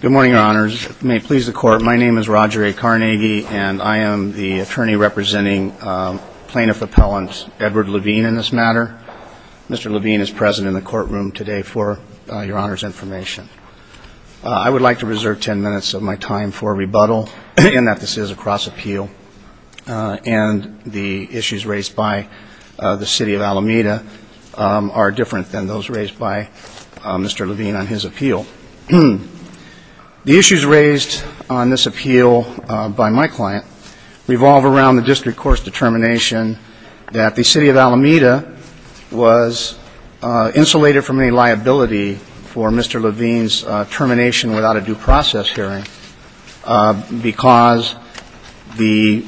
Good morning, Your Honors. May it please the Court, my name is Roger A. Carnegie and I am the attorney representing plaintiff appellant Edward Levine in this matter. Mr. Levine is present in the courtroom today for Your Honor's information. I would like to reserve ten minutes of my time for rebuttal in that this is a cross-appeal and the issues raised by the City of Alameda are different than those raised by Mr. Levine on his appeal. The issues raised on this appeal by my client revolve around the district court's determination that the City of Alameda was insulated from any liability for Mr. Levine's termination without a due process hearing because the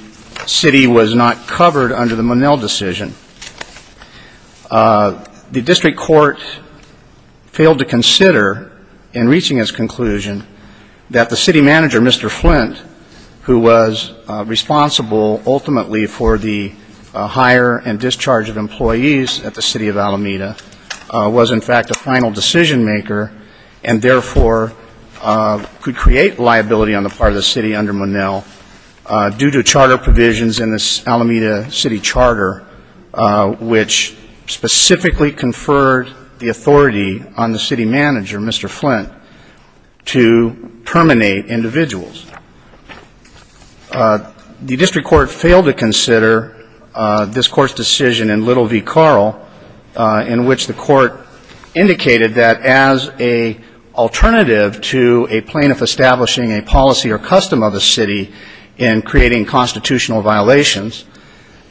city was not covered under the Monell decision. The district court failed to consider in reaching its conclusion that the city manager, Mr. Flint, who was responsible ultimately for the hire and discharge of employees at the City of Alameda, was in fact a final decision maker and therefore could create liability on the part of the city under Monell due to charter provisions in the Alameda City Charter which specifically conferred the authority on the city manager, Mr. Flint, to terminate individuals. The district court failed to consider this Court's decision in Little v. Carl in which the court indicated that as an alternative to a plaintiff establishing a policy or custom of the city in creating constitutional violations,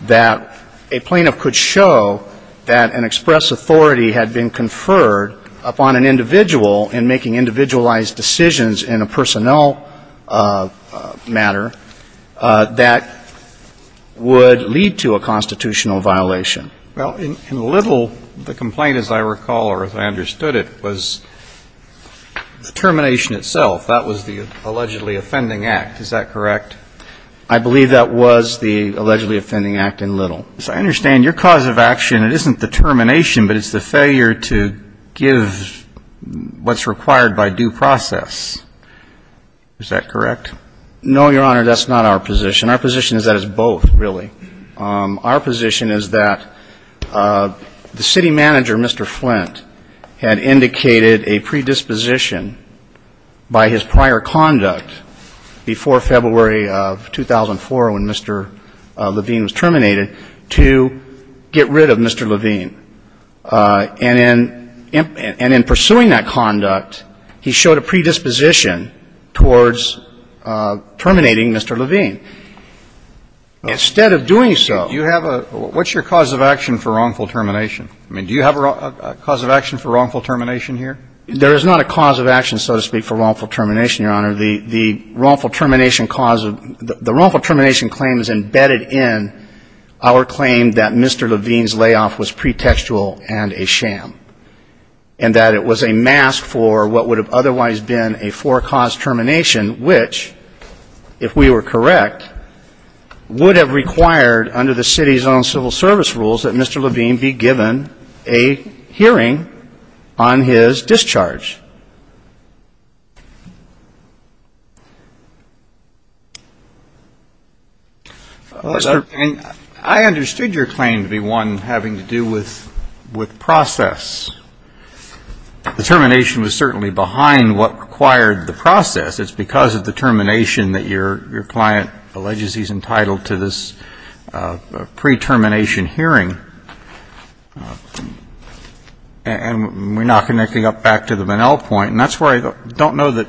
that a plaintiff could show that an express authority had been conferred upon an individual in making individualized decisions in a personnel matter that would lead to a constitutional violation. Well, in Little, the complaint, as I recall or as I understood it, was the termination itself. That was the allegedly offending act. Is that correct? I believe that was the allegedly offending act in Little. So I understand your cause of action, it isn't the termination, but it's the failure to give what's required by due process. Is that correct? No, Your Honor, that's not our position. Our position is that it's both, really. Our position is that the city manager, Mr. Flint, had indicated a predisposition by his prior conduct before February of 2004 when Mr. Levine was terminated to get rid of Mr. Levine. And in pursuing that conduct, he showed a predisposition towards terminating Mr. Levine. So the fact that he was not the one who was terminated, I think, is a fairly reasonable thing to say. Instead of doing so you have a What's your cause of action for wrongful termination? I mean, do you have a cause of action for wrongful termination here? There is not a cause of action, so to speak, for wrongful termination, Your Honor. The wrongful termination cause of the wrongful termination claim is embedded in our claim that Mr. Levine's layoff was pretextual and a sham and that it was a mask for what would have otherwise been a four-cause termination, which, if we were correct, would have required under the city's own civil service rules that Mr. Levine be given a hearing on his discharge. I understood your claim to be one having to do with process. The termination was certainly behind what required the process. It's because of the termination that your client alleges he's entitled to this pre-termination hearing. And we're now connecting up back to the Bunnell point, and that's where I don't know that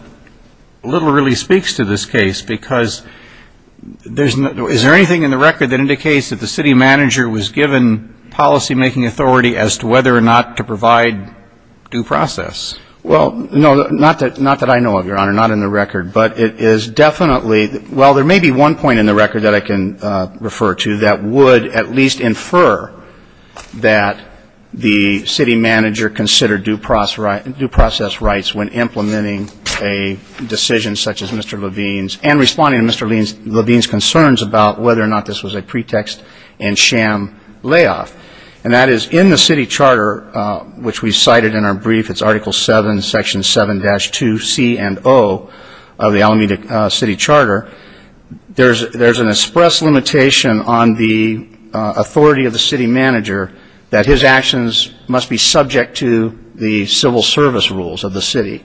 little really speaks to this case, because there's no Is there anything in the record that indicates that the city manager was given policymaking authority as to whether or not to provide due process? Well, no, not that not that I know of, Your Honor, not in the record, but it is definitely Well, there may be one point in the record that I can refer to that would at least infer that the city manager considered due process rights when implementing a decision such as Mr. Levine's and responding to Mr. Levine's concerns about whether or not this was a pretext and sham layoff. And that is in the city charter, which we cited in our brief, it's Article 7, Section 7-2C and O of the Alameda City Charter. There's an express limitation on the authority of the city manager that his actions must be subject to the civil service rules of the city.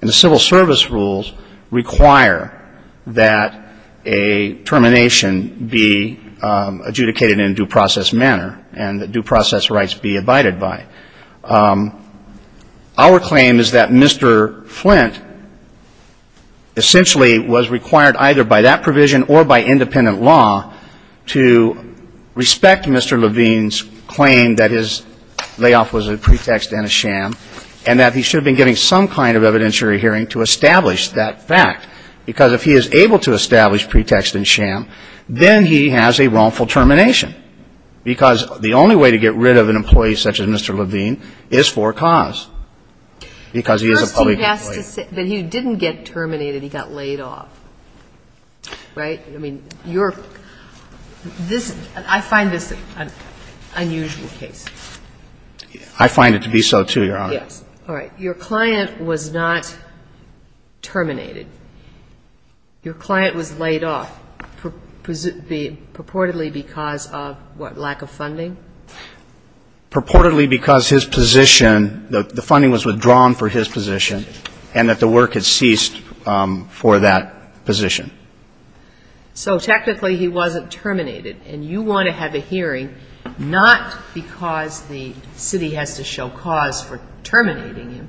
And the civil service rules require that a termination be adjudicated in a due process manner and that due process rights be abided by. Our claim is that Mr. Flint essentially was required either by that provision or by independent law to respect Mr. Levine's claim that his layoff was a pretext and a sham and that he should have been getting some kind of evidentiary hearing to establish that fact. Because if he is able to establish pretext and sham, then he has a wrongful termination. Because the only way to get rid of an employee such as Mr. Levine is for cause. Because he is a public employee. First, you have to say that he didn't get terminated. He got laid off. Right? I mean, your – this – I find this an unusual case. I find it to be so, too, Your Honor. All right. Your client was not terminated. Your client was laid off purportedly because of what, lack of funding? Purportedly because his position, the funding was withdrawn for his position and that the work had ceased for that position. So technically he wasn't terminated. And you want to have a hearing not because the city has to show cause for terminating him,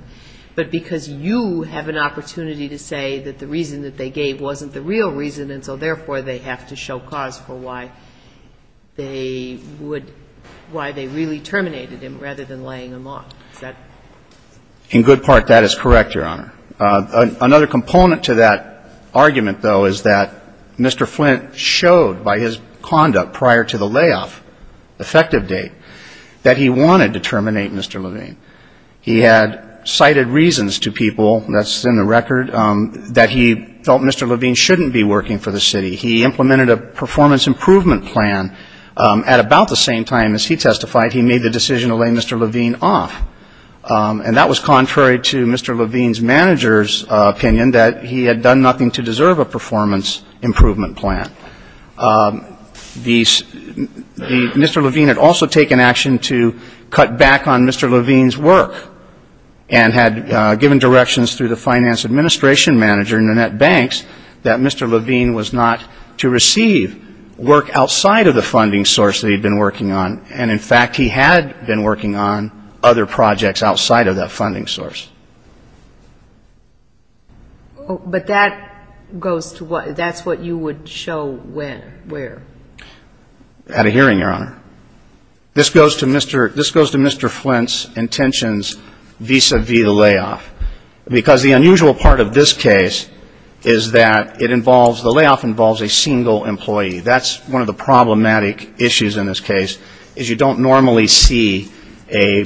but because you have an opportunity to say that the reason that they gave wasn't the real reason and so therefore they have to show cause for why they would – why they really terminated him rather than laying him off. Is that? In good part, that is correct, Your Honor. Another component to that argument, though, is that Mr. Flint showed by his conduct prior to the layoff, effective date, that he wanted to terminate Mr. Levine. He had cited reasons to people, that's in the record, that he felt Mr. Levine shouldn't be working for the city. He implemented a performance improvement plan at about the same time as he testified he made the decision to lay Mr. Levine off. And that was contrary to Mr. Levine's manager's opinion that he had done nothing to deserve a performance improvement plan. Mr. Levine had also taken action to cut back on Mr. Levine's work and had given directions through the finance administration manager, Nanette Banks, that Mr. Levine was not to receive work outside of the funding source that he had been working on. And, in fact, he had been working on other projects outside of that funding source. But that goes to what, that's what you would show where? At a hearing, Your Honor. This goes to Mr. Flint's intentions vis-à-vis the layoff. Because the unusual part of this case is that it involves, the layoff involves a single employee. That's one of the problematic issues in this case, is you don't normally see a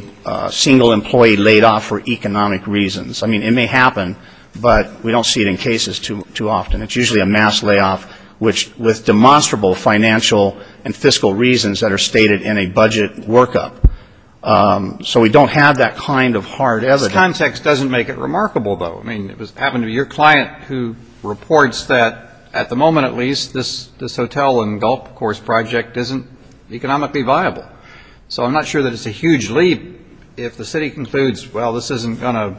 single employee laid off for economic reasons. I mean, it may happen, but we don't see it in cases too often. It's usually a mass layoff, which with demonstrable financial and fiscal reasons that are stated in a budget workup. So we don't have that kind of hard evidence. This context doesn't make it remarkable, though. I mean, it happened to be your client who reports that, at the moment at least, this hotel and golf course project isn't economically viable. So I'm not sure that it's a huge leap if the city concludes, well, this isn't going to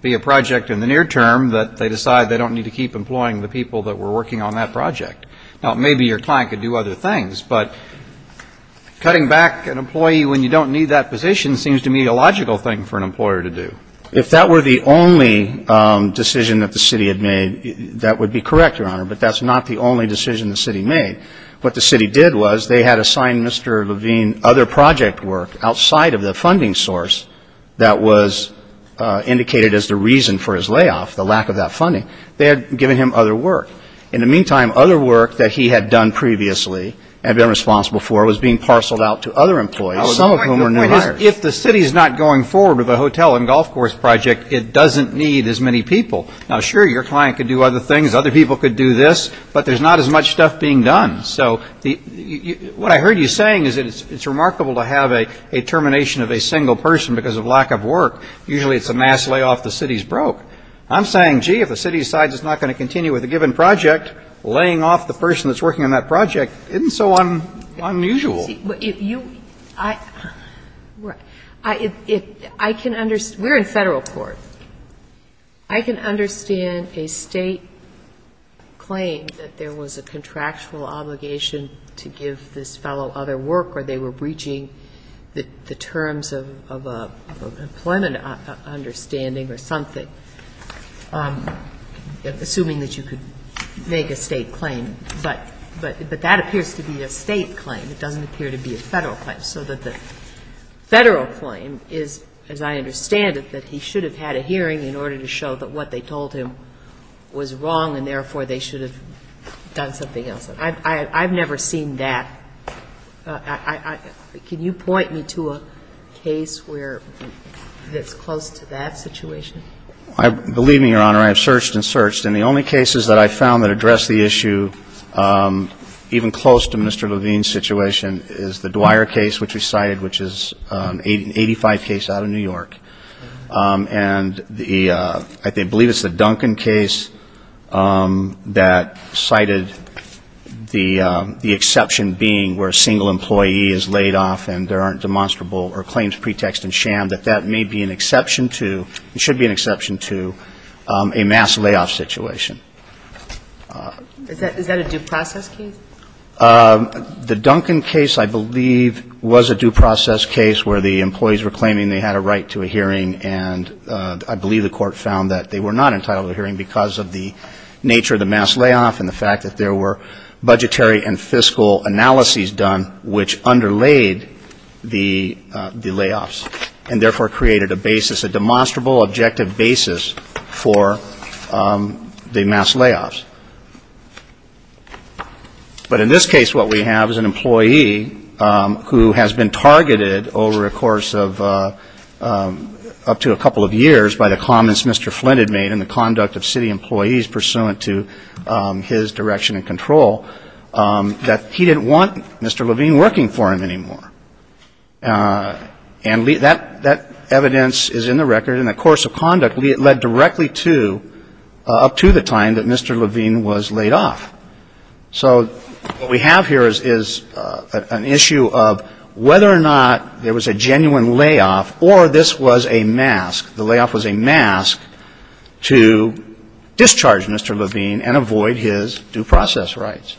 be a project in the near term, that they decide they don't need to keep employing the people that were working on that project. Now, maybe your client could do other things, but cutting back an employee when you don't need that position seems to me a logical thing for an employer to do. If that were the only decision that the city had made, that would be correct, Your Honor. But that's not the only decision the city made. What the city did was they had assigned Mr. Levine other project work outside of the funding source that was indicated as the reason for his layoff, the lack of that funding. They had given him other work. In the meantime, other work that he had done previously and been responsible for was being parceled out to other employees, some of whom were new hires. If the city is not going forward with a hotel and golf course project, it doesn't need as many people. Now, sure, your client could do other things. Other people could do this. But there's not as much stuff being done. So what I heard you saying is that it's remarkable to have a termination of a single person because of lack of work. Usually it's a mass layoff. The city is broke. I'm saying, gee, if the city decides it's not going to continue with a given project, laying off the person that's working on that project isn't so unusual. We're in Federal court. I can understand a State claim that there was a contractual obligation to give this fellow other work or they were breaching the terms of an employment understanding or something, assuming that you could make a State claim. But that appears to be a State claim. It doesn't appear to be a Federal claim. So that the Federal claim is, as I understand it, that he should have had a hearing in order to show that what they told him was wrong and therefore they should have done something else. I've never seen that. Can you point me to a case where it's close to that situation? Believe me, Your Honor, I have searched and searched. And the only cases that I found that address the issue even close to Mr. Levine's situation is the Dwyer case, which we cited, which is an 85 case out of New York. And I believe it's the Duncan case that cited the exception being where a single employee is laid off and there aren't demonstrable or claims, pretext, and sham, that that may be an exception to and should be an exception to a mass layoff situation. Is that a due process case? The Duncan case, I believe, was a due process case where the employees were claiming they had a right to a hearing. And I believe the Court found that they were not entitled to a hearing because of the nature of the mass layoff and the fact that there were budgetary and fiscal analyses done which underlaid the layoffs and therefore created a basis, a demonstrable, objective basis for the mass layoffs. But in this case, what we have is an employee who has been targeted over a course of up to a couple of years by the comments Mr. Flint had made in the conduct of city employees pursuant to his direction and control that he didn't want Mr. Levine working for him anymore. And that evidence is in the record. And the course of conduct led directly to, up to the time that Mr. Levine was laid off. So what we have here is an issue of whether or not there was a genuine layoff or this was a mask. The layoff was a mask to discharge Mr. Levine and avoid his due process rights.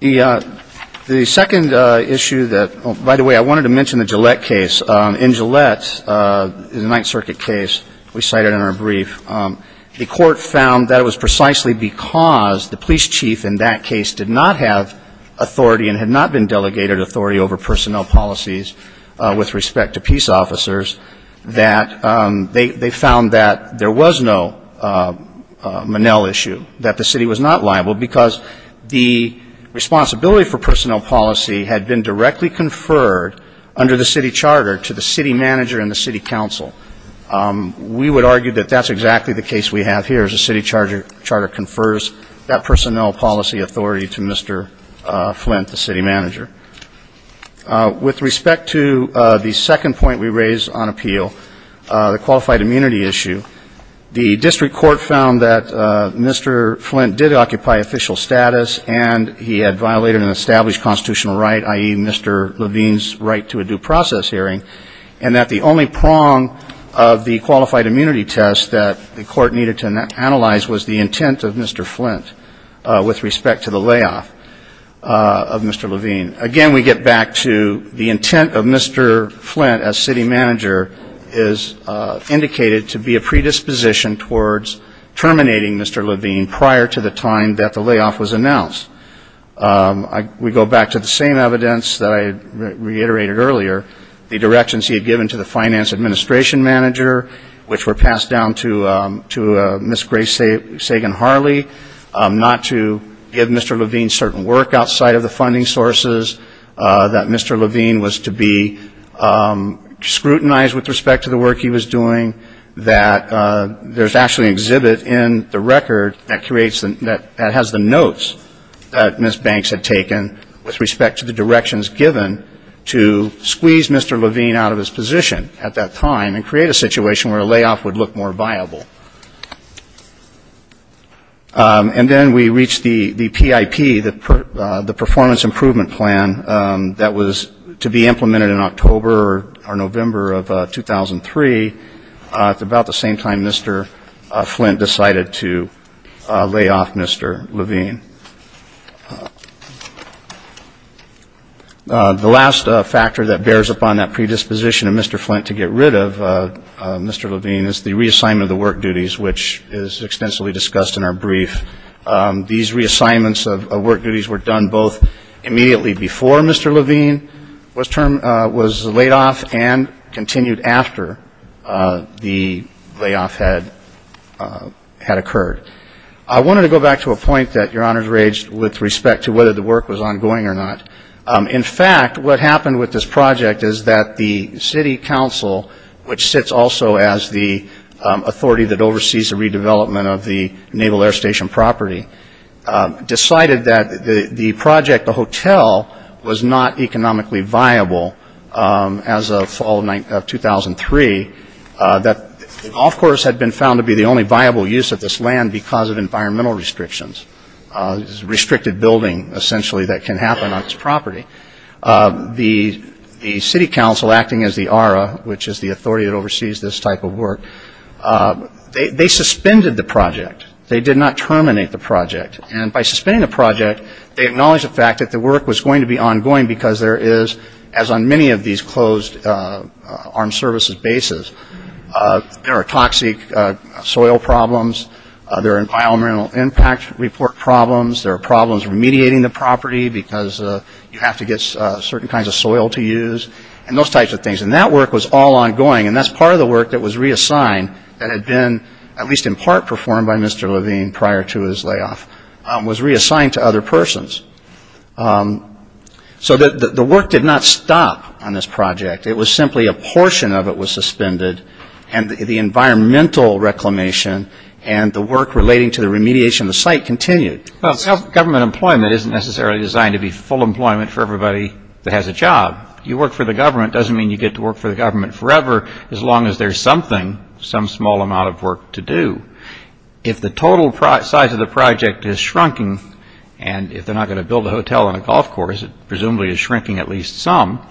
The second issue that, by the way, I wanted to mention the Gillette case. In Gillette, the Ninth Circuit case we cited in our brief, the Court found that it was precisely because the police chief in that case did not have authority and had not been delegated authority over personnel policies with respect to peace officers that they found that there was no Monell issue, that the city was not liable, because the responsibility for personnel policy had been directly conferred under the city charter to the city manager and the city council. We would argue that that's exactly the case we have here, is the city charter confers that personnel policy authority to Mr. Flint, the city manager. With respect to the second point we raised on appeal, the qualified immunity issue, the district court found that Mr. Flint did occupy official status and he had violated an established constitutional right, i.e., Mr. Levine's right to a due process hearing, and that the only prong of the qualified immunity test that the court needed to analyze was the intent of Mr. Flint with respect to the layoff of Mr. Levine. Again, we get back to the intent of Mr. Flint as city manager is indicated to be a predisposition towards terminating Mr. Levine prior to the time that the layoff was announced. We go back to the same evidence that I reiterated earlier, the directions he had given to the finance administration manager, which were passed down to Ms. Grace Sagan-Harley, not to give Mr. Levine certain work outside of the funding sources, that Mr. Levine was to be scrutinized with respect to the work he was doing, that there's actually an exhibit in the record that has the notes that Ms. Banks had taken with respect to the directions given to squeeze Mr. Levine out of his position at that time and create a situation where a layoff would look more viable. And then we reached the PIP, the performance improvement plan, that was to be implemented in October or November of 2003 at about the same time Mr. Flint decided to layoff Mr. Levine. The last factor that bears upon that predisposition of Mr. Flint to get rid of Mr. Levine is the reassignment of the work duties, which is extensively discussed in our brief. These reassignments of work duties were done both immediately before Mr. Levine was laid off and continued after the layoff had occurred. I wanted to go back to a point that Your Honors raised with respect to whether the work was ongoing or not. In fact, what happened with this project is that the city council, which sits also as the authority that oversees the redevelopment of the Naval Air Station property, decided that the project, the hotel, was not economically viable as of fall of 2003. It, of course, had been found to be the only viable use of this land because of environmental restrictions, restricted building, essentially, that can happen on this property. The city council, acting as the ARRA, which is the authority that oversees this type of work, they suspended the project. They did not terminate the project. And by suspending the project, they acknowledged the fact that the work was going to be ongoing because there is, as on many of these closed armed services bases, there are toxic soil problems. There are environmental impact report problems. There are problems remediating the property because you have to get certain kinds of soil to use and those types of things. And that work was all ongoing, and that's part of the work that was reassigned that had been, at least in part performed by Mr. Levine prior to his layoff, was reassigned to other persons. So the work did not stop on this project. It was simply a portion of it was suspended, and the environmental reclamation and the work relating to the remediation of the site continued. Well, government employment isn't necessarily designed to be full employment for everybody that has a job. You work for the government doesn't mean you get to work for the government forever, as long as there's something, some small amount of work to do. If the total size of the project is shrinking, and if they're not going to build a hotel and a golf course, it presumably is shrinking at least some,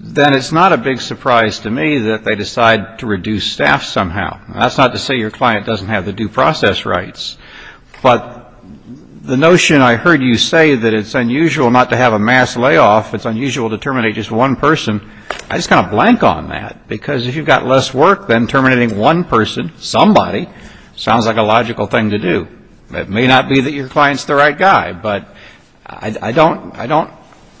then it's not a big surprise to me that they decide to reduce staff somehow. That's not to say your client doesn't have the due process rights, but the notion I heard you say that it's unusual not to have a mass layoff, it's unusual to terminate just one person, I just kind of blank on that, because if you've got less work than terminating one person, somebody, sounds like a logical thing to do. It may not be that your client's the right guy, but I don't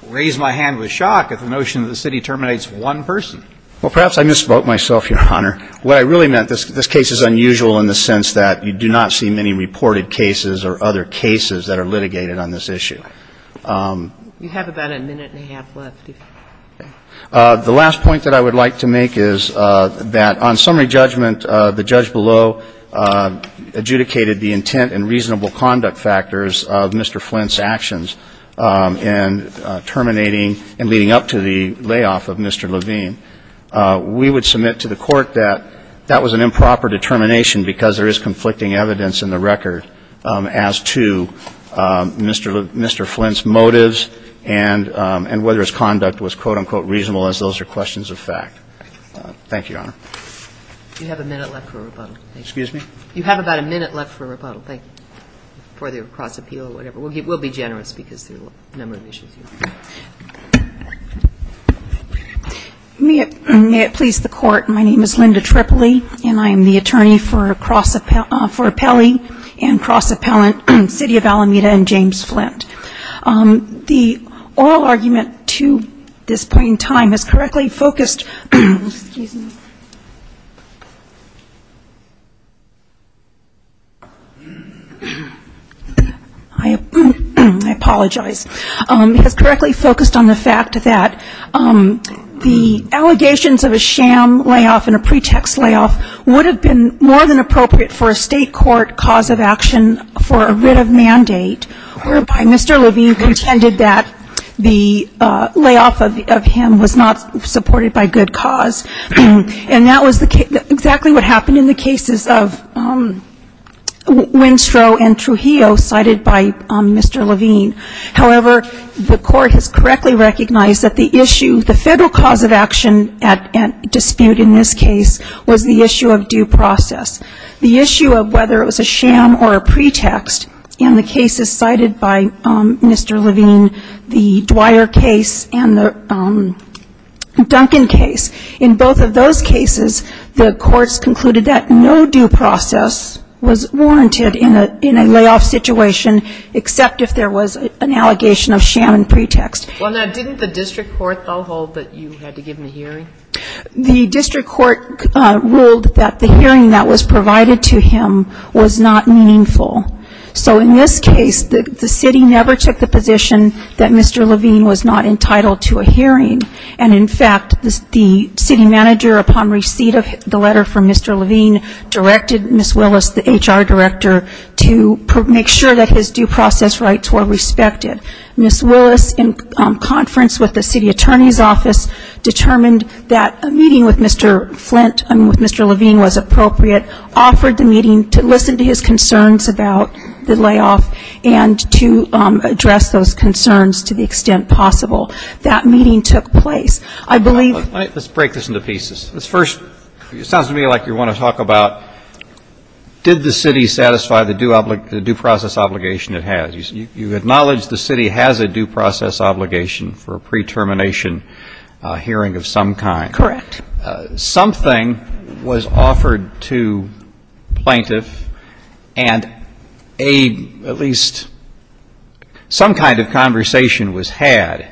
raise my hand with shock at the notion that the city terminates one person. Well, perhaps I misspoke myself, Your Honor. What I really meant, this case is unusual in the sense that you do not see many reported cases or other cases that are litigated on this issue. You have about a minute and a half left. The last point that I would like to make is that on summary judgment, the judge below adjudicated the intent and reasonable conduct factors of Mr. Flint's actions in terminating and leading up to the layoff of Mr. Levine. We would submit to the Court that that was an improper determination because there is conflicting evidence in the record as to Mr. Flint's motives and whether his conduct was, quote, unquote, reasonable, as those are questions of fact. Thank you, Your Honor. You have a minute left for a rebuttal. Excuse me? You have about a minute left for a rebuttal. Thank you. For the cross-appeal or whatever. We'll be generous because there are a number of issues. Thank you. May it please the Court, my name is Linda Tripoli, and I am the attorney for Pelley and cross-appellant City of Alameda and James Flint. The oral argument to this point in time is correctly focused. Excuse me. I apologize. It is correctly focused on the fact that the allegations of a sham layoff and a pretext layoff would have been more than appropriate for a state court cause of action for a writ of mandate whereby Mr. Levine contended that the layoff of him was not supported by good cause. And that was exactly what happened in the cases of Winstrow and Trujillo cited by Mr. Levine. However, the Court has correctly recognized that the issue, the federal cause of action at dispute in this case was the issue of due process. The issue of whether it was a sham or a pretext in the cases cited by Mr. Levine, the Dwyer case and the Duncan case. In both of those cases, the courts concluded that no due process was warranted in a layoff situation, except if there was an allegation of sham and pretext. Well, now, didn't the district court, I'll hold that you had to give him a hearing? The district court ruled that the hearing that was provided to him was not meaningful. So in this case, the city never took the position that Mr. Levine was not entitled to a hearing. And, in fact, the city manager, upon receipt of the letter from Mr. Levine, directed Ms. Willis, the HR director, to make sure that his due process rights were respected. Ms. Willis, in conference with the city attorney's office, determined that a meeting with Mr. Flint and with Mr. Levine was appropriate, offered the meeting to listen to his concerns about the layoff and to address those concerns to the extent possible. That meeting took place. I believe ---- Let's break this into pieces. First, it sounds to me like you want to talk about did the city satisfy the due process obligation it has. You acknowledge the city has a due process obligation for a pre-termination hearing of some kind. Correct. Something was offered to plaintiff and at least some kind of conversation was had.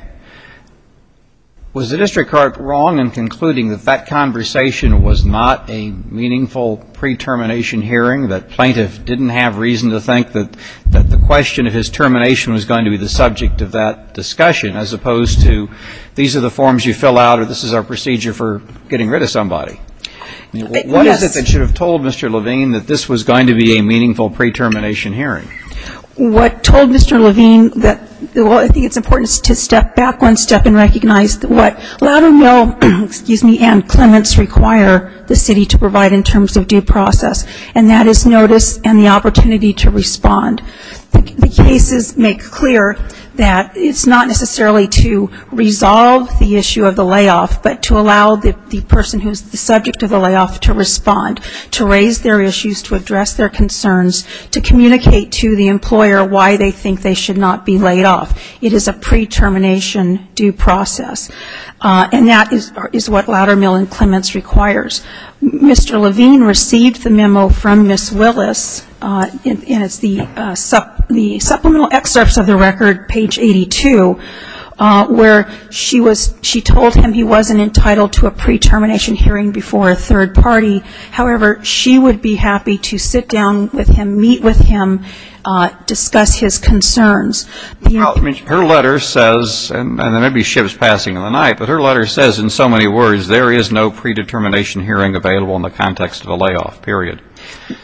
Was the district court wrong in concluding that that conversation was not a meaningful pre-termination hearing, that plaintiff didn't have reason to think that the question of his termination was going to be the subject of that discussion, as opposed to these are the forms you fill out or this is our procedure for getting rid of somebody? Yes. What is it that should have told Mr. Levine that this was going to be a meaningful pre-termination hearing? What told Mr. Levine that, well, I think it's important to step back one step and recognize what Loudonville and Clements require the city to provide in terms of due process, and that is notice and the opportunity to respond. The cases make clear that it's not necessarily to resolve the issue of the layoff, but to allow the person who is the subject of the layoff to respond, to raise their issues, to address their concerns, to communicate to the employer why they think they should not be laid off. It is a pre-termination due process. And that is what Loudonville and Clements requires. Mr. Levine received the memo from Ms. Willis, and it's the supplemental excerpts of the record, page 82, where she told him he wasn't entitled to a pre-termination hearing before a third party. However, she would be happy to sit down with him, meet with him, discuss his concerns. Her letter says, and there may be ships passing in the night, but her letter says, in so many words, there is no pre-determination hearing available in the context of a layoff, period.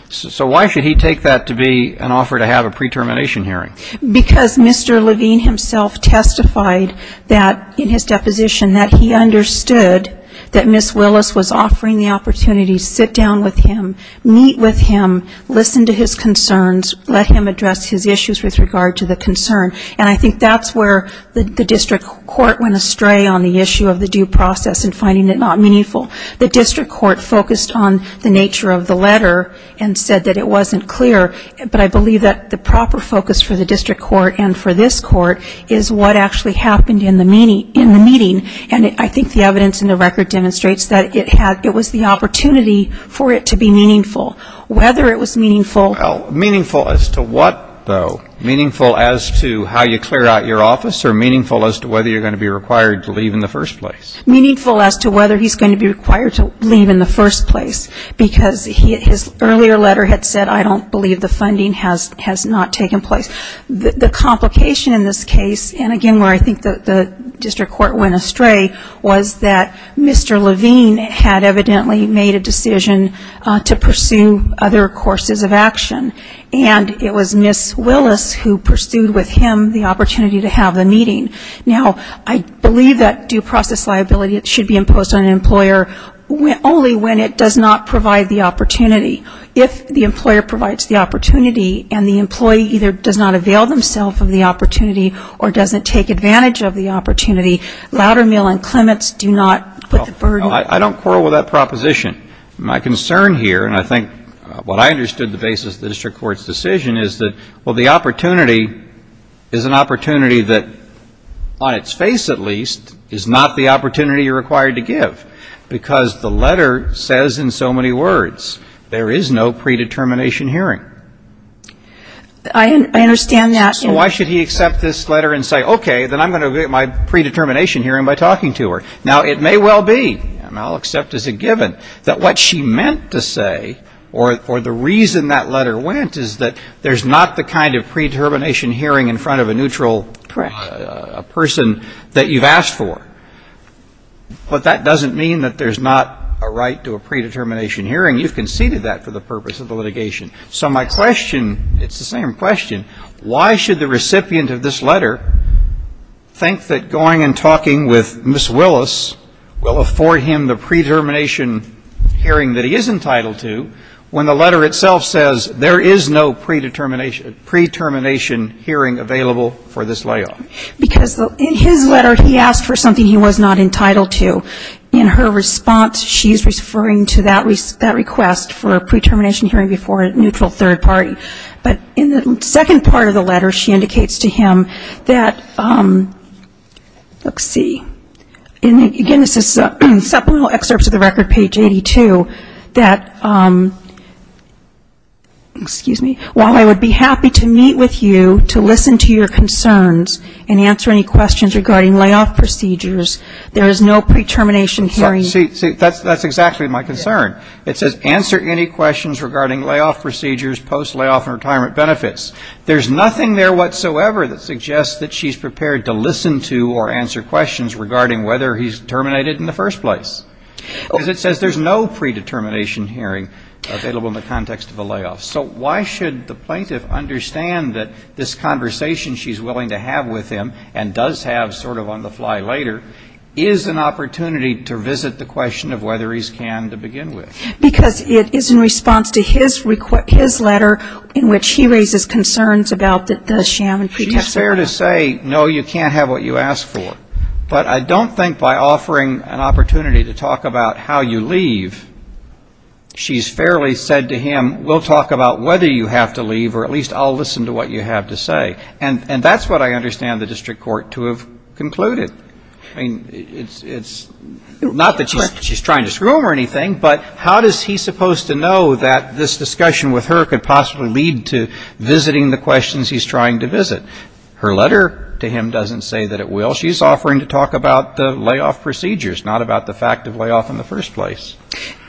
So why should he take that to be an offer to have a pre-termination hearing? Because Mr. Levine himself testified that, in his deposition, that he understood that Ms. Willis was offering the opportunity to sit down with him, meet with him, listen to his concerns, let him address his issues with regard to the concern. And I think that's where the district court went astray on the issue of the due process and finding it not meaningful. The district court focused on the nature of the letter and said that it wasn't clear. But I believe that the proper focus for the district court and for this court is what actually happened in the meeting. And I think the evidence in the record demonstrates that it was the opportunity for it to be meaningful. Whether it was meaningful. Meaningful as to what, though? Meaningful as to how you clear out your office or meaningful as to whether you're going to be required to leave in the first place? Meaningful as to whether he's going to be required to leave in the first place. Because his earlier letter had said, I don't believe the funding has not taken place. The complication in this case, and again where I think the district court went astray, was that Mr. Levine had evidently made a decision to pursue other courses of action. And it was Ms. Willis who pursued with him the opportunity to have the meeting. Now, I believe that due process liability should be imposed on an employer only when it does not provide the opportunity. If the employer provides the opportunity and the employee either does not avail themselves of the opportunity or doesn't take advantage of the opportunity, Loudermill and Clements do not put the burden. Well, I don't quarrel with that proposition. My concern here, and I think what I understood the basis of the district court's decision is that, well, the opportunity is an opportunity that, on its face at least, is not the opportunity you're required to give. Because the letter says in so many words, there is no predetermination hearing. I understand that. So why should he accept this letter and say, okay, then I'm going to get my predetermination hearing by talking to her? Now, it may well be, and I'll accept as a given, that what she meant to say or the reason that letter went is that there's not the kind of predetermination hearing in front of a neutral person that you've asked for. But that doesn't mean that there's not a right to a predetermination hearing. You've conceded that for the purpose of the litigation. So my question, it's the same question, why should the recipient of this letter think that going and talking with Ms. Willis will afford him the predetermination hearing that he is entitled to when the letter itself says there is no predetermination hearing available for this layoff? Because in his letter, he asked for something he was not entitled to. In her response, she's referring to that request for a predetermination hearing before a neutral third party. But in the second part of the letter, she indicates to him that, let's see, again, this is supplemental excerpts of the record, page 82, that, excuse me, while I would be happy to meet with you to listen to your concerns and answer any questions regarding layoff procedures, there is no predetermination hearing. See, that's exactly my concern. It says answer any questions regarding layoff procedures post-layoff and retirement benefits. There's nothing there whatsoever that suggests that she's prepared to listen to or answer questions regarding whether he's terminated in the first place. Because it says there's no predetermination hearing available in the context of a layoff. So why should the plaintiff understand that this conversation she's willing to have with him and does have sort of on-the-fly later is an opportunity to visit the question of whether he's canned to begin with? Because it is in response to his letter in which he raises concerns about the sham and pretext of layoff. She's fair to say, no, you can't have what you ask for. But I don't think by offering an opportunity to talk about how you leave, she's fairly said to him, we'll talk about whether you have to leave or at least I'll listen to what you have to say. And that's what I understand the district court to have concluded. I mean, it's not that she's trying to screw him or anything, but how is he supposed to know that this discussion with her could possibly lead to visiting the questions he's trying to visit? Her letter to him doesn't say that it will. She's offering to talk about the layoff procedures, not about the fact of layoff in the first place.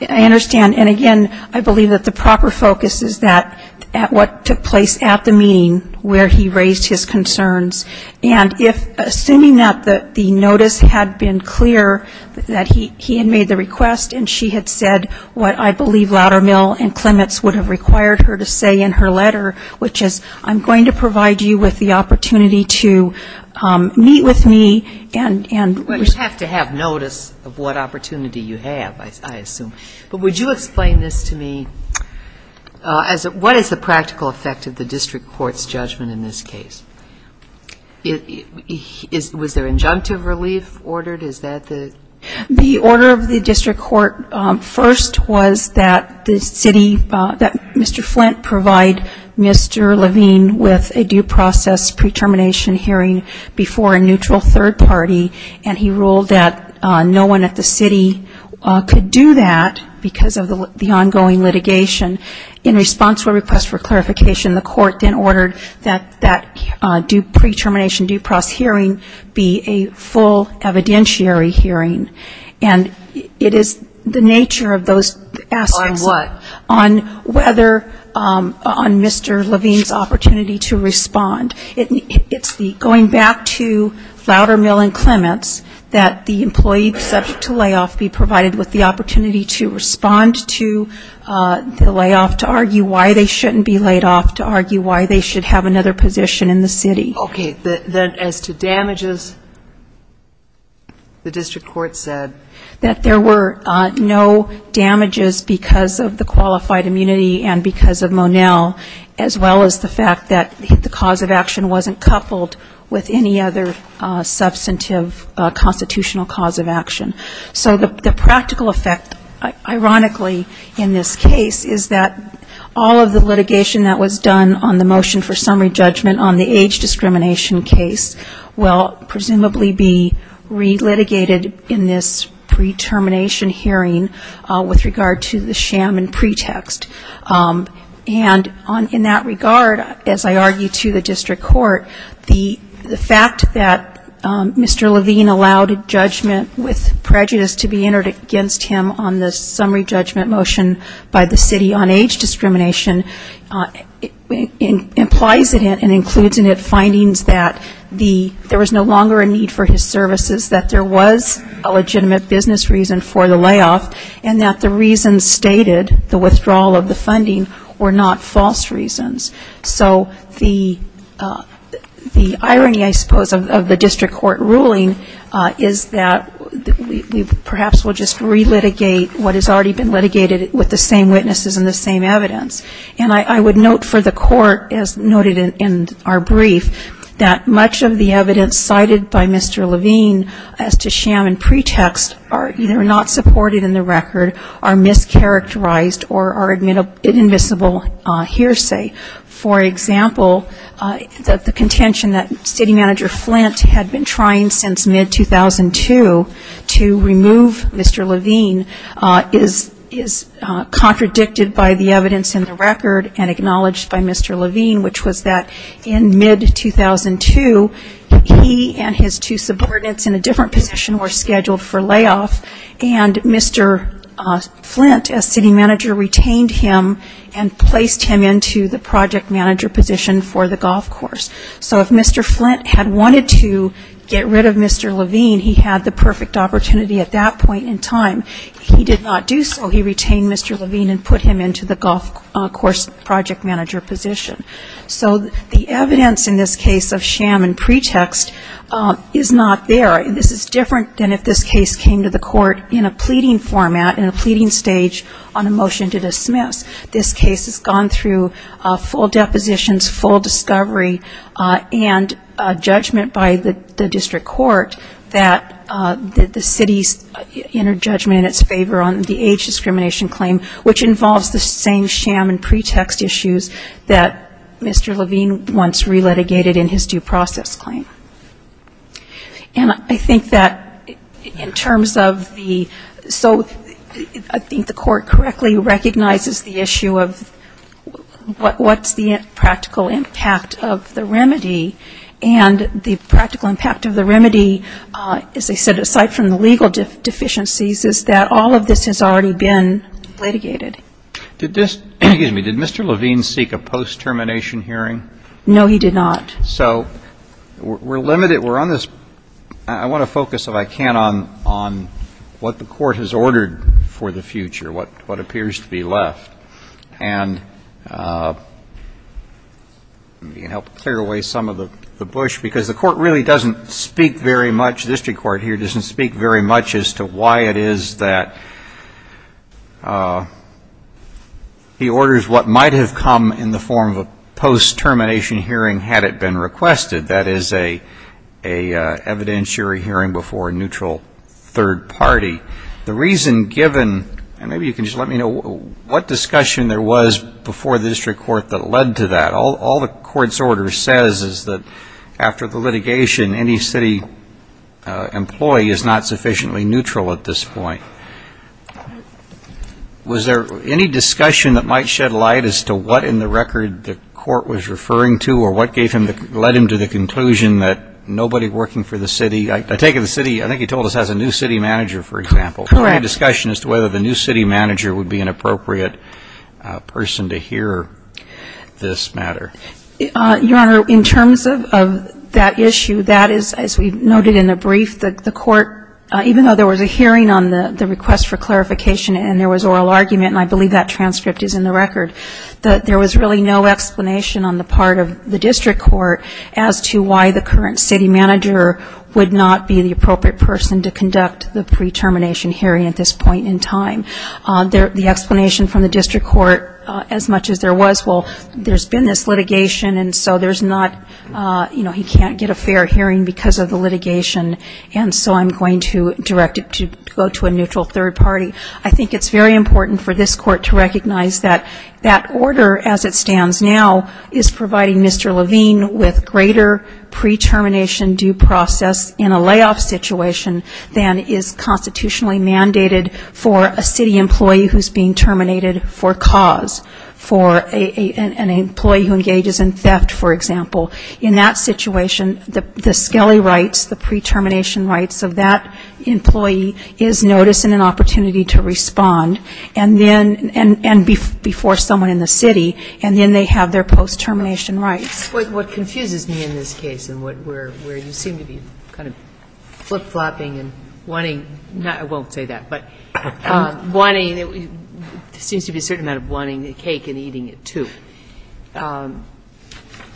I understand. And again, I believe that the proper focus is that at what took place at the meeting where he raised his concerns. And if assuming that the notice had been clear that he had made the request and she had said what I believe Loudermill and Clements would have required her to say in her letter, which is I'm going to provide you with the opportunity to meet with me and we'll just have to have notice of what opportunity you have, I assume. But would you explain this to me? What is the practical effect of the district court's judgment in this case? Was there injunctive relief ordered? The order of the district court first was that the city, that Mr. Flint provide Mr. Levine with a due process pre-termination hearing before a neutral third party, and he ruled that no one at the city could do that because of the ongoing litigation. In response to a request for clarification, the court then ordered that that due pre-termination due process hearing be a full evidential judiciary hearing, and it is the nature of those aspects. On what? On whether, on Mr. Levine's opportunity to respond. It's the going back to Loudermill and Clements that the employee subject to layoff be provided with the opportunity to respond to the layoff, to argue why they shouldn't be laid off, to argue why they should have another position in the city. Okay. Then as to damages, the district court said that there were no damages because of the qualified immunity and because of Monell, as well as the fact that the cause of action wasn't coupled with any other substantive constitutional cause of action. So the practical effect, ironically in this case, is that all of the litigation that was done on the motion for summary judgment on the age discrimination case will presumably be re-litigated in this pre-termination hearing with regard to the sham and pretext. And in that regard, as I argue to the district court, the fact that Mr. Levine allowed a judgment with prejudice to be entered against him on the summary judgment motion by the city on age discrimination implies it in an inclusive way. It includes in it findings that there was no longer a need for his services, that there was a legitimate business reason for the layoff, and that the reasons stated, the withdrawal of the funding, were not false reasons. So the irony, I suppose, of the district court ruling is that we perhaps will just re-litigate what has already been litigated with the same that much of the evidence cited by Mr. Levine as to sham and pretext are either not supported in the record, are mischaracterized, or are inadmissible hearsay. For example, the contention that city manager Flint had been trying since mid-2002 to remove Mr. Levine is contradicted by the evidence in the record and acknowledged by Mr. Levine, which was that in mid-2002, he and his two subordinates in a different position were scheduled for layoff, and Mr. Flint, as city manager, retained him and placed him into the project manager position for the golf course. So if Mr. Flint had wanted to get rid of Mr. Levine, he had the perfect opportunity at that point in time. He did not do so. He retained Mr. Levine and put him into the golf course project manager position. So the evidence in this case of sham and pretext is not there. This is different than if this case came to the court in a pleading format, in a pleading stage on a motion to dismiss. This case has gone through full depositions, full discovery, and judgment by the district court that the city's inner judgment in its favor on the age discrimination claim, which involves the same sham and pretext issues that Mr. Levine once re-litigated in his due process claim. And I think that in terms of the so I think the court correctly recognizes the evidence in this case. The issue of what's the practical impact of the remedy. And the practical impact of the remedy, as I said, aside from the legal deficiencies, is that all of this has already been litigated. Did Mr. Levine seek a post-termination hearing? No, he did not. So we're limited, we're on this, I want to focus if I can on what the court has ordered for the future, what appears to be left. And let me help clear away some of the bush, because the court really doesn't speak very much, the district court here doesn't speak very much as to why it is that he orders what might have come in the form of a post-termination hearing had it been requested, that is a evidentiary hearing before a neutral third party. The reason given, and maybe you can just let me know, what discussion there was before the district court that led to that? All the court's order says is that after the litigation, any city employee is not sufficiently neutral at this point. Was there any discussion that might shed light as to what in the record the court was referring to in this case? Was there any discussion as to who or what gave him the, led him to the conclusion that nobody working for the city, I take it the city, I think he told us has a new city manager, for example. Correct. Any discussion as to whether the new city manager would be an appropriate person to hear this matter? Your Honor, in terms of that issue, that is, as we noted in the brief, the court, even though there was a hearing on the request for clarification and there was oral argument, and I believe that transcript is in the record, that there was really no explanation on the part of the district court as to why the current city manager would not be the appropriate person to conduct the pre-termination hearing at this point in time. The explanation from the district court, as much as there was, well, there's been this litigation, and so there's not, you know, he can't get a fair hearing because of the litigation, and so I'm going to direct it to go to a neutral third party. I think it's very important for this court to recognize that that order as it stands now is providing Mr. Levine with greater pre-termination due process in a layoff situation than is constitutionally mandated for a city employee who's being terminated for cause, for an employee who engages in theft, for example. In that situation, the skelly rights, the pre-termination rights of that employee is notice and an opportunity to respond, and before someone in the city, and then they have their post-termination rights. What confuses me in this case, and where you seem to be kind of flip-flopping and wanting, I won't say that, but wanting, there seems to be a certain amount of wanting the cake and eating it, too.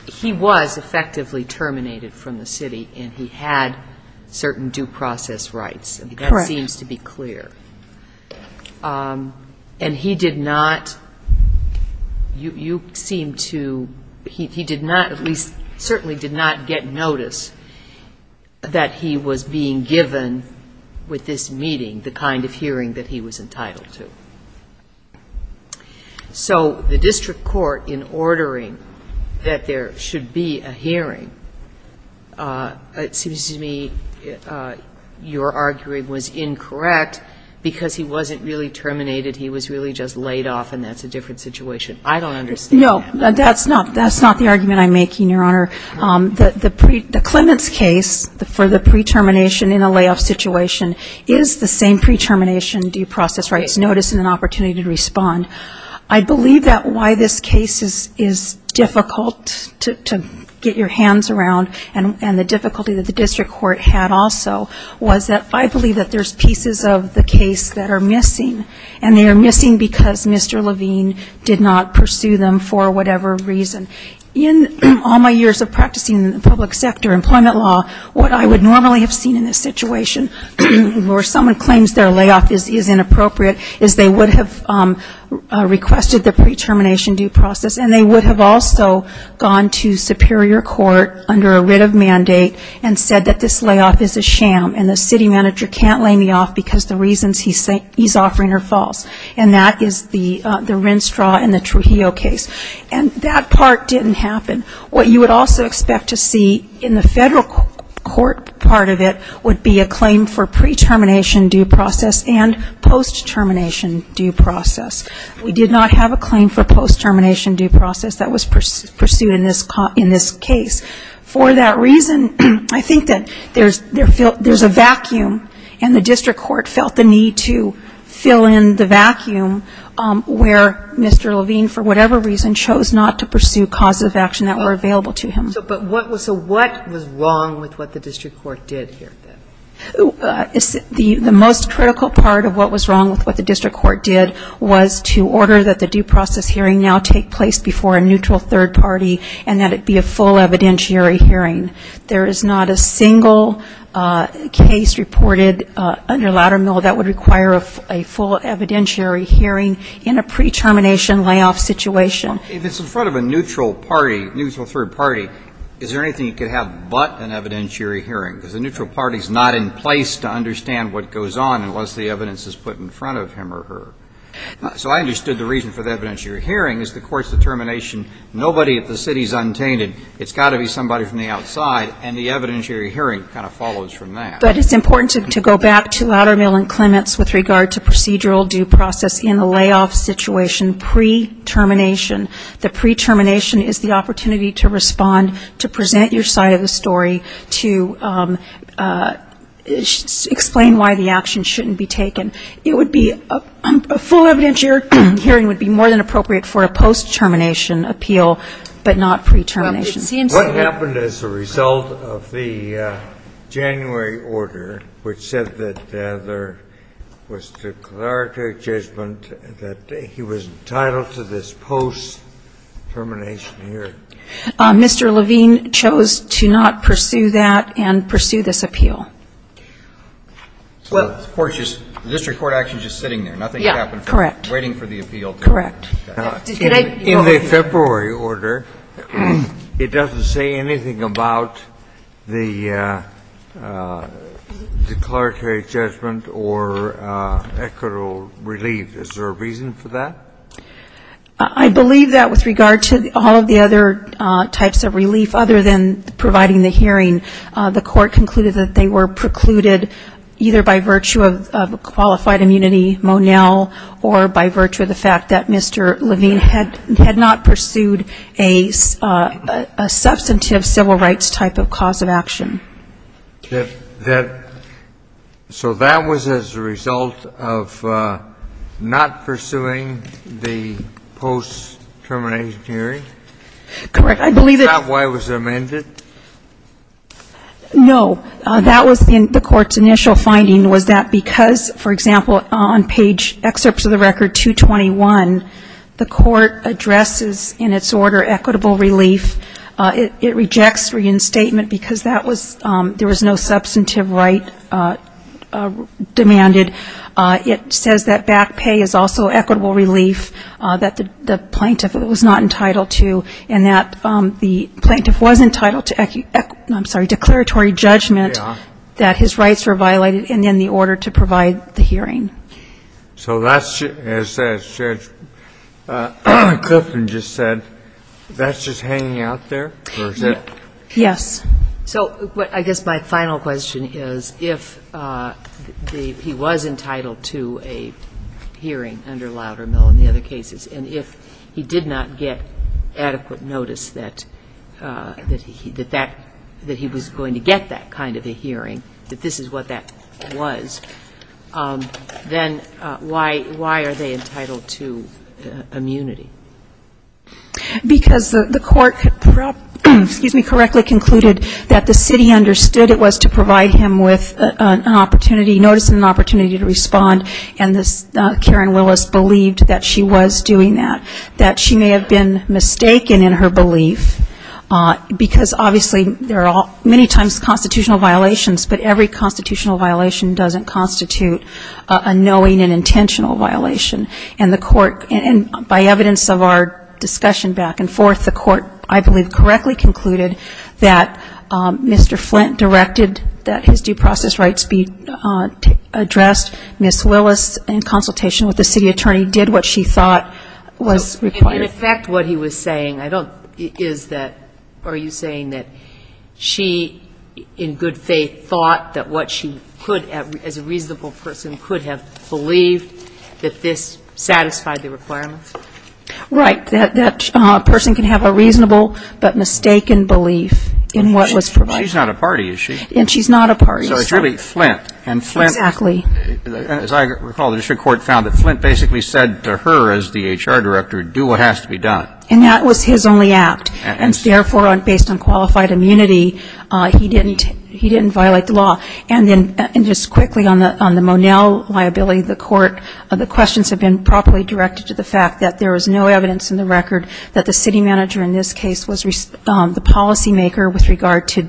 He was effectively terminated from the city, and he had certain due process rights. That seems to be clear, and he did not, you seem to, he did not, at least certainly did not get notice that he was being given with this meeting the kind of hearing that he was entitled to. So the district court, in ordering that there should be a hearing, it seems to me your arguing was incorrect, because he wasn't really terminated. He was really just laid off, and that's a different situation. I don't understand that. No, that's not the argument I'm making, Your Honor. The Clements case for the pre-termination in a layoff situation is the same pre-termination due process rights, and the difficulty that the district court had also was that I believe that there's pieces of the case that are missing, and they are missing because Mr. Levine did not pursue them for whatever reason. In all my years of practicing public sector employment law, what I would normally have seen in this situation, where someone claims their layoff is inappropriate, is they would have requested the pre-termination due process, and they would have also gone to superior court under a writ of mandate and said that this layoff is a sham, and the city manager can't lay me off because the reasons he's offering are false. And that is the Rennstraw and the Trujillo case. And that part didn't happen. What you would also expect to see in the federal court part of it would be a claim for pre-termination due process and post-termination due process. We did not have a claim for post-termination due process that was pursued in this case. For that reason, I think that there's a vacuum, and the district court felt the need to fill in the vacuum where Mr. Levine, for whatever reason, chose not to pursue causes of action that were available to him. So what was wrong with what the district court did here? The most critical part of what was wrong with what the district court did was to order that the due process hearing now take place before a neutral third party and that it be a full evidentiary hearing. There is not a single case reported under Loudermill that would require a full evidentiary hearing in a pre-termination layoff situation. If it's in front of a neutral party, neutral third party, is there anything you could have but an evidentiary hearing? Because the neutral party is not in place to understand what goes on unless the evidence is put in front of him or her. So I understood the reason for the evidentiary hearing is the court's determination, nobody at the city is untainted. It's got to be somebody from the outside, and the evidentiary hearing kind of follows from that. But it's important to go back to Loudermill and Clements with regard to procedural due process in a layoff situation pre-termination. The pre-termination is the opportunity to respond, to present your side of the story, to explain why the action shouldn't be taken. It would be a full evidentiary hearing would be more than appropriate for a post-termination appeal, but not pre-termination. What happened as a result of the January order which said that there was declaratory judgment that he was entitled to this post-termination hearing? Mr. Levine chose to not pursue that and pursue this appeal. So the court is just, the district court action is just sitting there, nothing happened from waiting for the appeal. Correct. In the February order, it doesn't say anything about the declaratory judgment or equitable relief. Is there a reason for that? I believe that with regard to all of the other types of relief other than providing the hearing, the court concluded that they were precluded either by virtue of qualified immunity, Monell, or by virtue of the fact that Mr. Levine had not pursued a substantive civil rights type of cause of action. So that was as a result of not pursuing the post-termination hearing? Correct. Is that why it was amended? No. That was the court's initial finding was that because, for example, on page, excerpts of the record 221, the court addresses in its order equitable relief. It rejects reinstatement because that was, there was no substantive right demanded. It says that back pay is also equitable relief, that the plaintiff was not entitled to, and that the plaintiff was entitled to, I'm sorry, declaratory judgment that his rights were violated in the order to provide the hearing. So that's, as Judge Clifton just said, that's just hanging out there, or is it? Yes. So I guess my final question is if he was entitled to a hearing under Loudermill in the other cases, and if he did not get adequate notice that he was going to get that kind of a hearing, that this is what that was, then why are they entitled to immunity? Because the court, excuse me, correctly concluded that the city understood it was to provide him with an opportunity, notice and an opportunity to respond, and Karen Willis believed that she was doing that, that she may have been mistaken in her belief, because obviously there are many times constitutional violations, but every constitutional violation doesn't constitute a knowing and intentional violation, and the court, and by evidence of our discussion back and forth, the court, I believe, correctly concluded that Mr. Flint directed that his due process rights be addressed. Ms. Willis, in consultation with the city attorney, did what she thought was required. In effect what he was saying, I don't, is that, are you saying that she, in good faith, thought that what she could, as a reasonable person, could have believed that this satisfied the requirements? Right. That a person can have a reasonable but mistaken belief in what was provided. She's not a party, is she? And she's not a party. So it's really Flint, and Flint, as I recall, the district court found that Flint basically said to her as the HR director, do what has to be done. And that was his only act, and therefore based on qualified immunity, he didn't violate the law. And then just quickly on the Monell liability, the court, the questions have been properly directed to the fact that there was no evidence in the record that the city manager in this case was the policymaker with regard to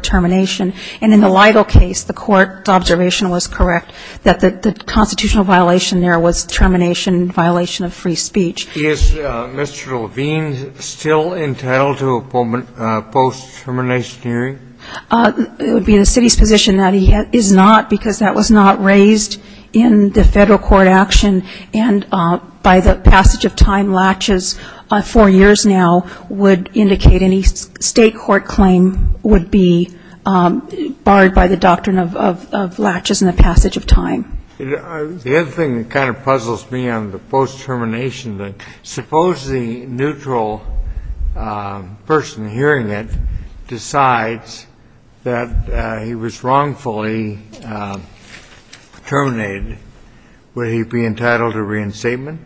termination. And in the Lido case, the court's observation was correct, that the constitutional violation there was termination, violation of free speech. Is Mr. Levine still entitled to a post-termination hearing? It would be the city's position that he is not, because that was not raised in the Federal court action, and by the passage of time, latches four years now would indicate any state court claim would be barred by the doctrine of latches in the passage of time. The other thing that kind of puzzles me on the post-termination, suppose the neutral person hearing it decides that he was wrongfully terminated, would that be the case? Would he be entitled to reinstatement?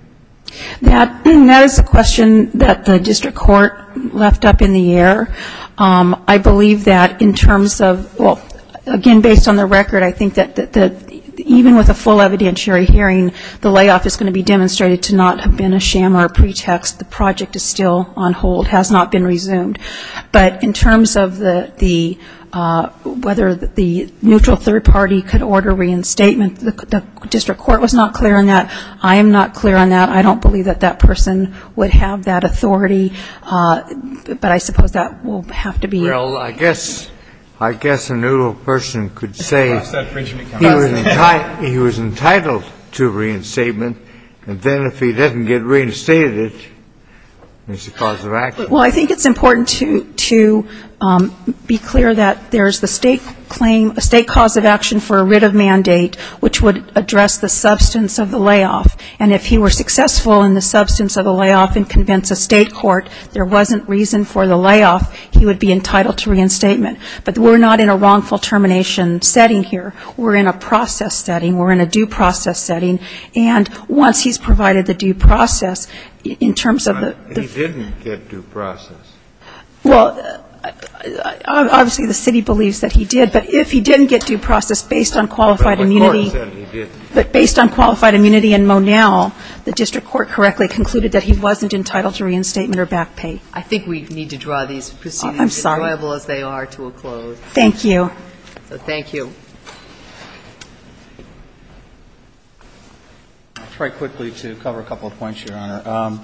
That is a question that the district court left up in the air. I believe that in terms of, well, again, based on the record, I think that even with a full evidentiary hearing, the layoff is going to be demonstrated to not have been a sham or a pretext. The project is still on hold, has not been resumed. But in terms of the, whether the neutral third party could order reinstatement, the district court was not clear on that. I am not clear on that. I don't believe that that person would have that authority. But I suppose that will have to be. Well, I guess a neutral person could say he was entitled to reinstatement, and then if he doesn't get reinstated, it's a cause of action. Well, I think it's important to be clear that there is the state claim, a state cause of action for a writ of mandate which would address the substance of the layoff, and if he were successful in the substance of the layoff and convince a state court there wasn't reason for the layoff, he would be entitled to reinstatement. But we're not in a wrongful termination setting here. We're in a process setting. We're in a due process setting. And once he's provided the due process, in terms of the ---- But he didn't get due process. Well, obviously the city believes that he did. But if he didn't get due process based on qualified immunity ---- But the court said he did. But based on qualified immunity in Monell, the district court correctly concluded that he wasn't entitled to reinstatement or back pay. I think we need to draw these proceedings as enjoyable as they are to a close. I'm sorry. Thank you. Thank you. I'll try quickly to cover a couple of points, Your Honor.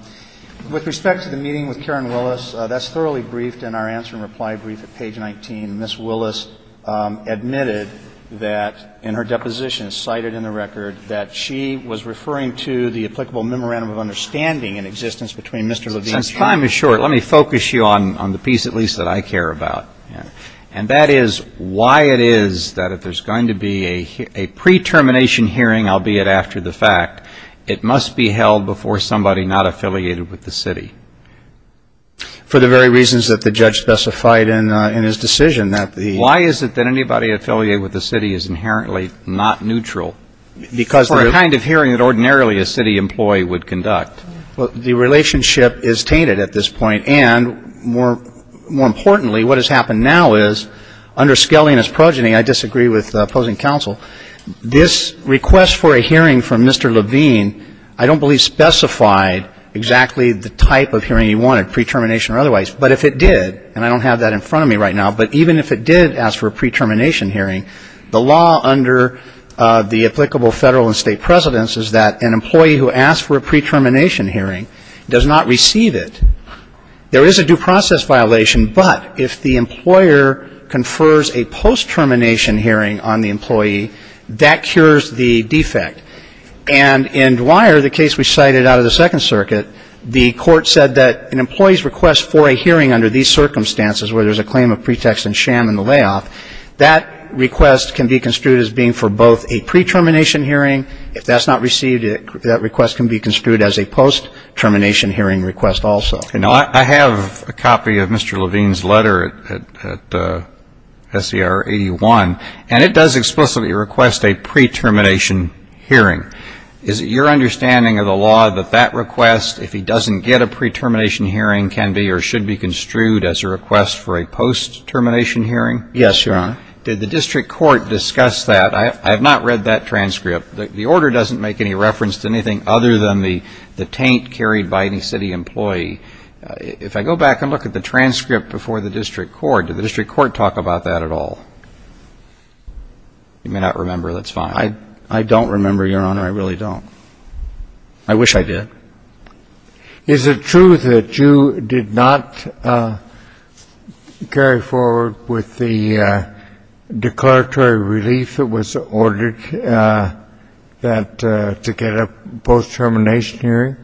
With respect to the meeting with Karen Willis, that's thoroughly briefed in our answer and reply brief at page 19. Ms. Willis admitted that in her deposition cited in the record that she was referring to the applicable memorandum of understanding in existence between Mr. Levine and ---- Since time is short, let me focus you on the piece at least that I care about. And that is why it is that if there's going to be a pre-termination hearing, albeit after the fact, it must be held before somebody not affiliated with the city. For the very reasons that the judge specified in his decision that the ---- Why is it that anybody affiliated with the city is inherently not neutral for a kind of hearing that ordinarily a city employee would conduct? Well, the relationship is tainted at this point. And more importantly, what has happened now is under skelliness progeny, I disagree with opposing counsel, this request for a hearing from Mr. Levine I don't believe specified exactly the type of hearing he wanted, pre-termination or otherwise. But if it did, and I don't have that in front of me right now, but even if it did ask for a pre-termination hearing, the law under the applicable federal and state precedence is that an employee who asks for a pre-termination hearing does not receive it. There is a due process violation, but if the employer confers a post-termination hearing on the employee, that cures the defect. And in Dwyer, the case we cited out of the Second Circuit, the court said that an employee's request for a hearing under these circumstances where there's a claim of pretext and sham in the layoff, that request can be construed as being for both a pre-termination hearing, if that's not received, that request can be construed as a post-termination hearing request also. I have a copy of Mr. Levine's letter at SCR 81, and it does explicitly request a pre-termination hearing. Is it your understanding of the law that that request, if he doesn't get a pre-termination hearing, can be or should be construed as a request for a post-termination hearing? Yes, Your Honor. Did the district court discuss that? I have not read that transcript. The order doesn't make any reference to anything other than the taint carried by any city employee. If I go back and look at the transcript before the district court, did the district court talk about that at all? You may not remember. That's fine. I don't remember, Your Honor. I really don't. I wish I did. Is it true that you did not carry forward with the declaratory relief that was ordered that to get a post-termination hearing?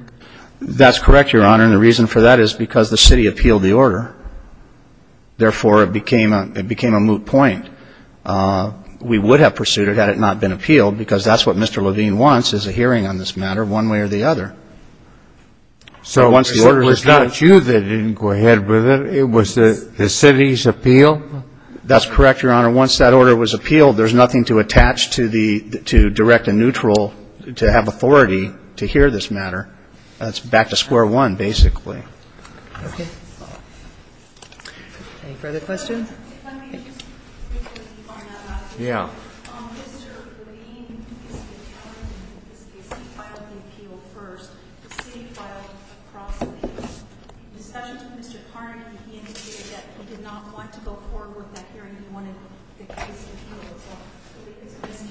That's correct, Your Honor. And the reason for that is because the city appealed the order. Therefore, it became a moot point. We would have pursued it had it not been appealed, because that's what Mr. Levine wants, is a hearing on this matter one way or the other. So it was not you that didn't go ahead with it. It was the city's appeal? That's correct, Your Honor. Once that order was appealed, there's nothing to attach to the to direct a neutral to have authority to hear this matter. That's back to square one, basically. Okay. Any further questions? Mr. Levine is the attorney in this case. He filed the appeal first. The city filed a cross-appeal. In discussion with Mr. Carney, he indicated that he did not want to go forward with that hearing. He wanted the case appealed as well. But because of his characterization,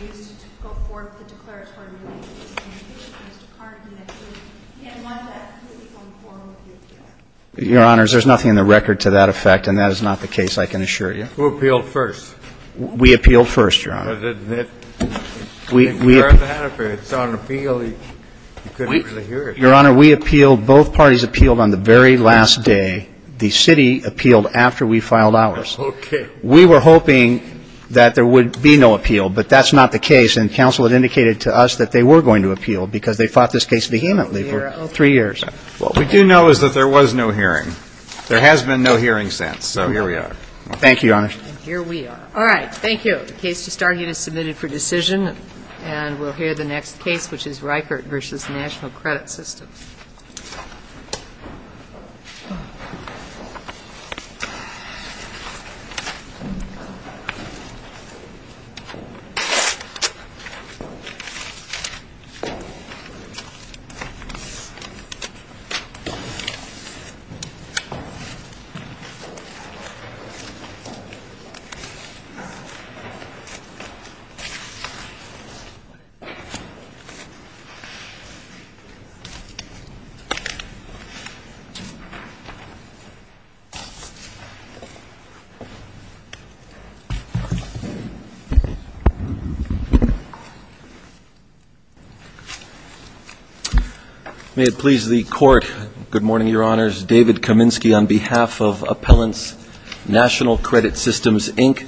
he used to go forward with the declaratory relief. Your Honor, there's nothing in the record to that effect, and that is not the case, I can assure you. Who appealed first? We appealed first, Your Honor. But it's on appeal. You couldn't really hear it. Your Honor, we appealed. Both parties appealed on the very last day. The city appealed after we filed ours. Okay. We were hoping that there would be no appeal, but that's not the case. And counsel had indicated to us that they were going to appeal, because they fought this case vehemently for three years. What we do know is that there was no hearing. There has been no hearing since. So here we are. Thank you, Your Honor. And here we are. All right, thank you. The case just argued is submitted for decision, and we'll hear the next case, which is Reichert v. National Credit System. Mr. Reichert. Mr. Court, good morning, Your Honors. David Kaminsky on behalf of Appellants National Credit Systems, Inc.,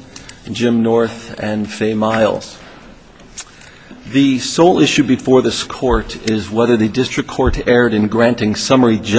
Jim North, and Faye Miles. The sole issue before this court is whether the district court erred in granting summary judgment.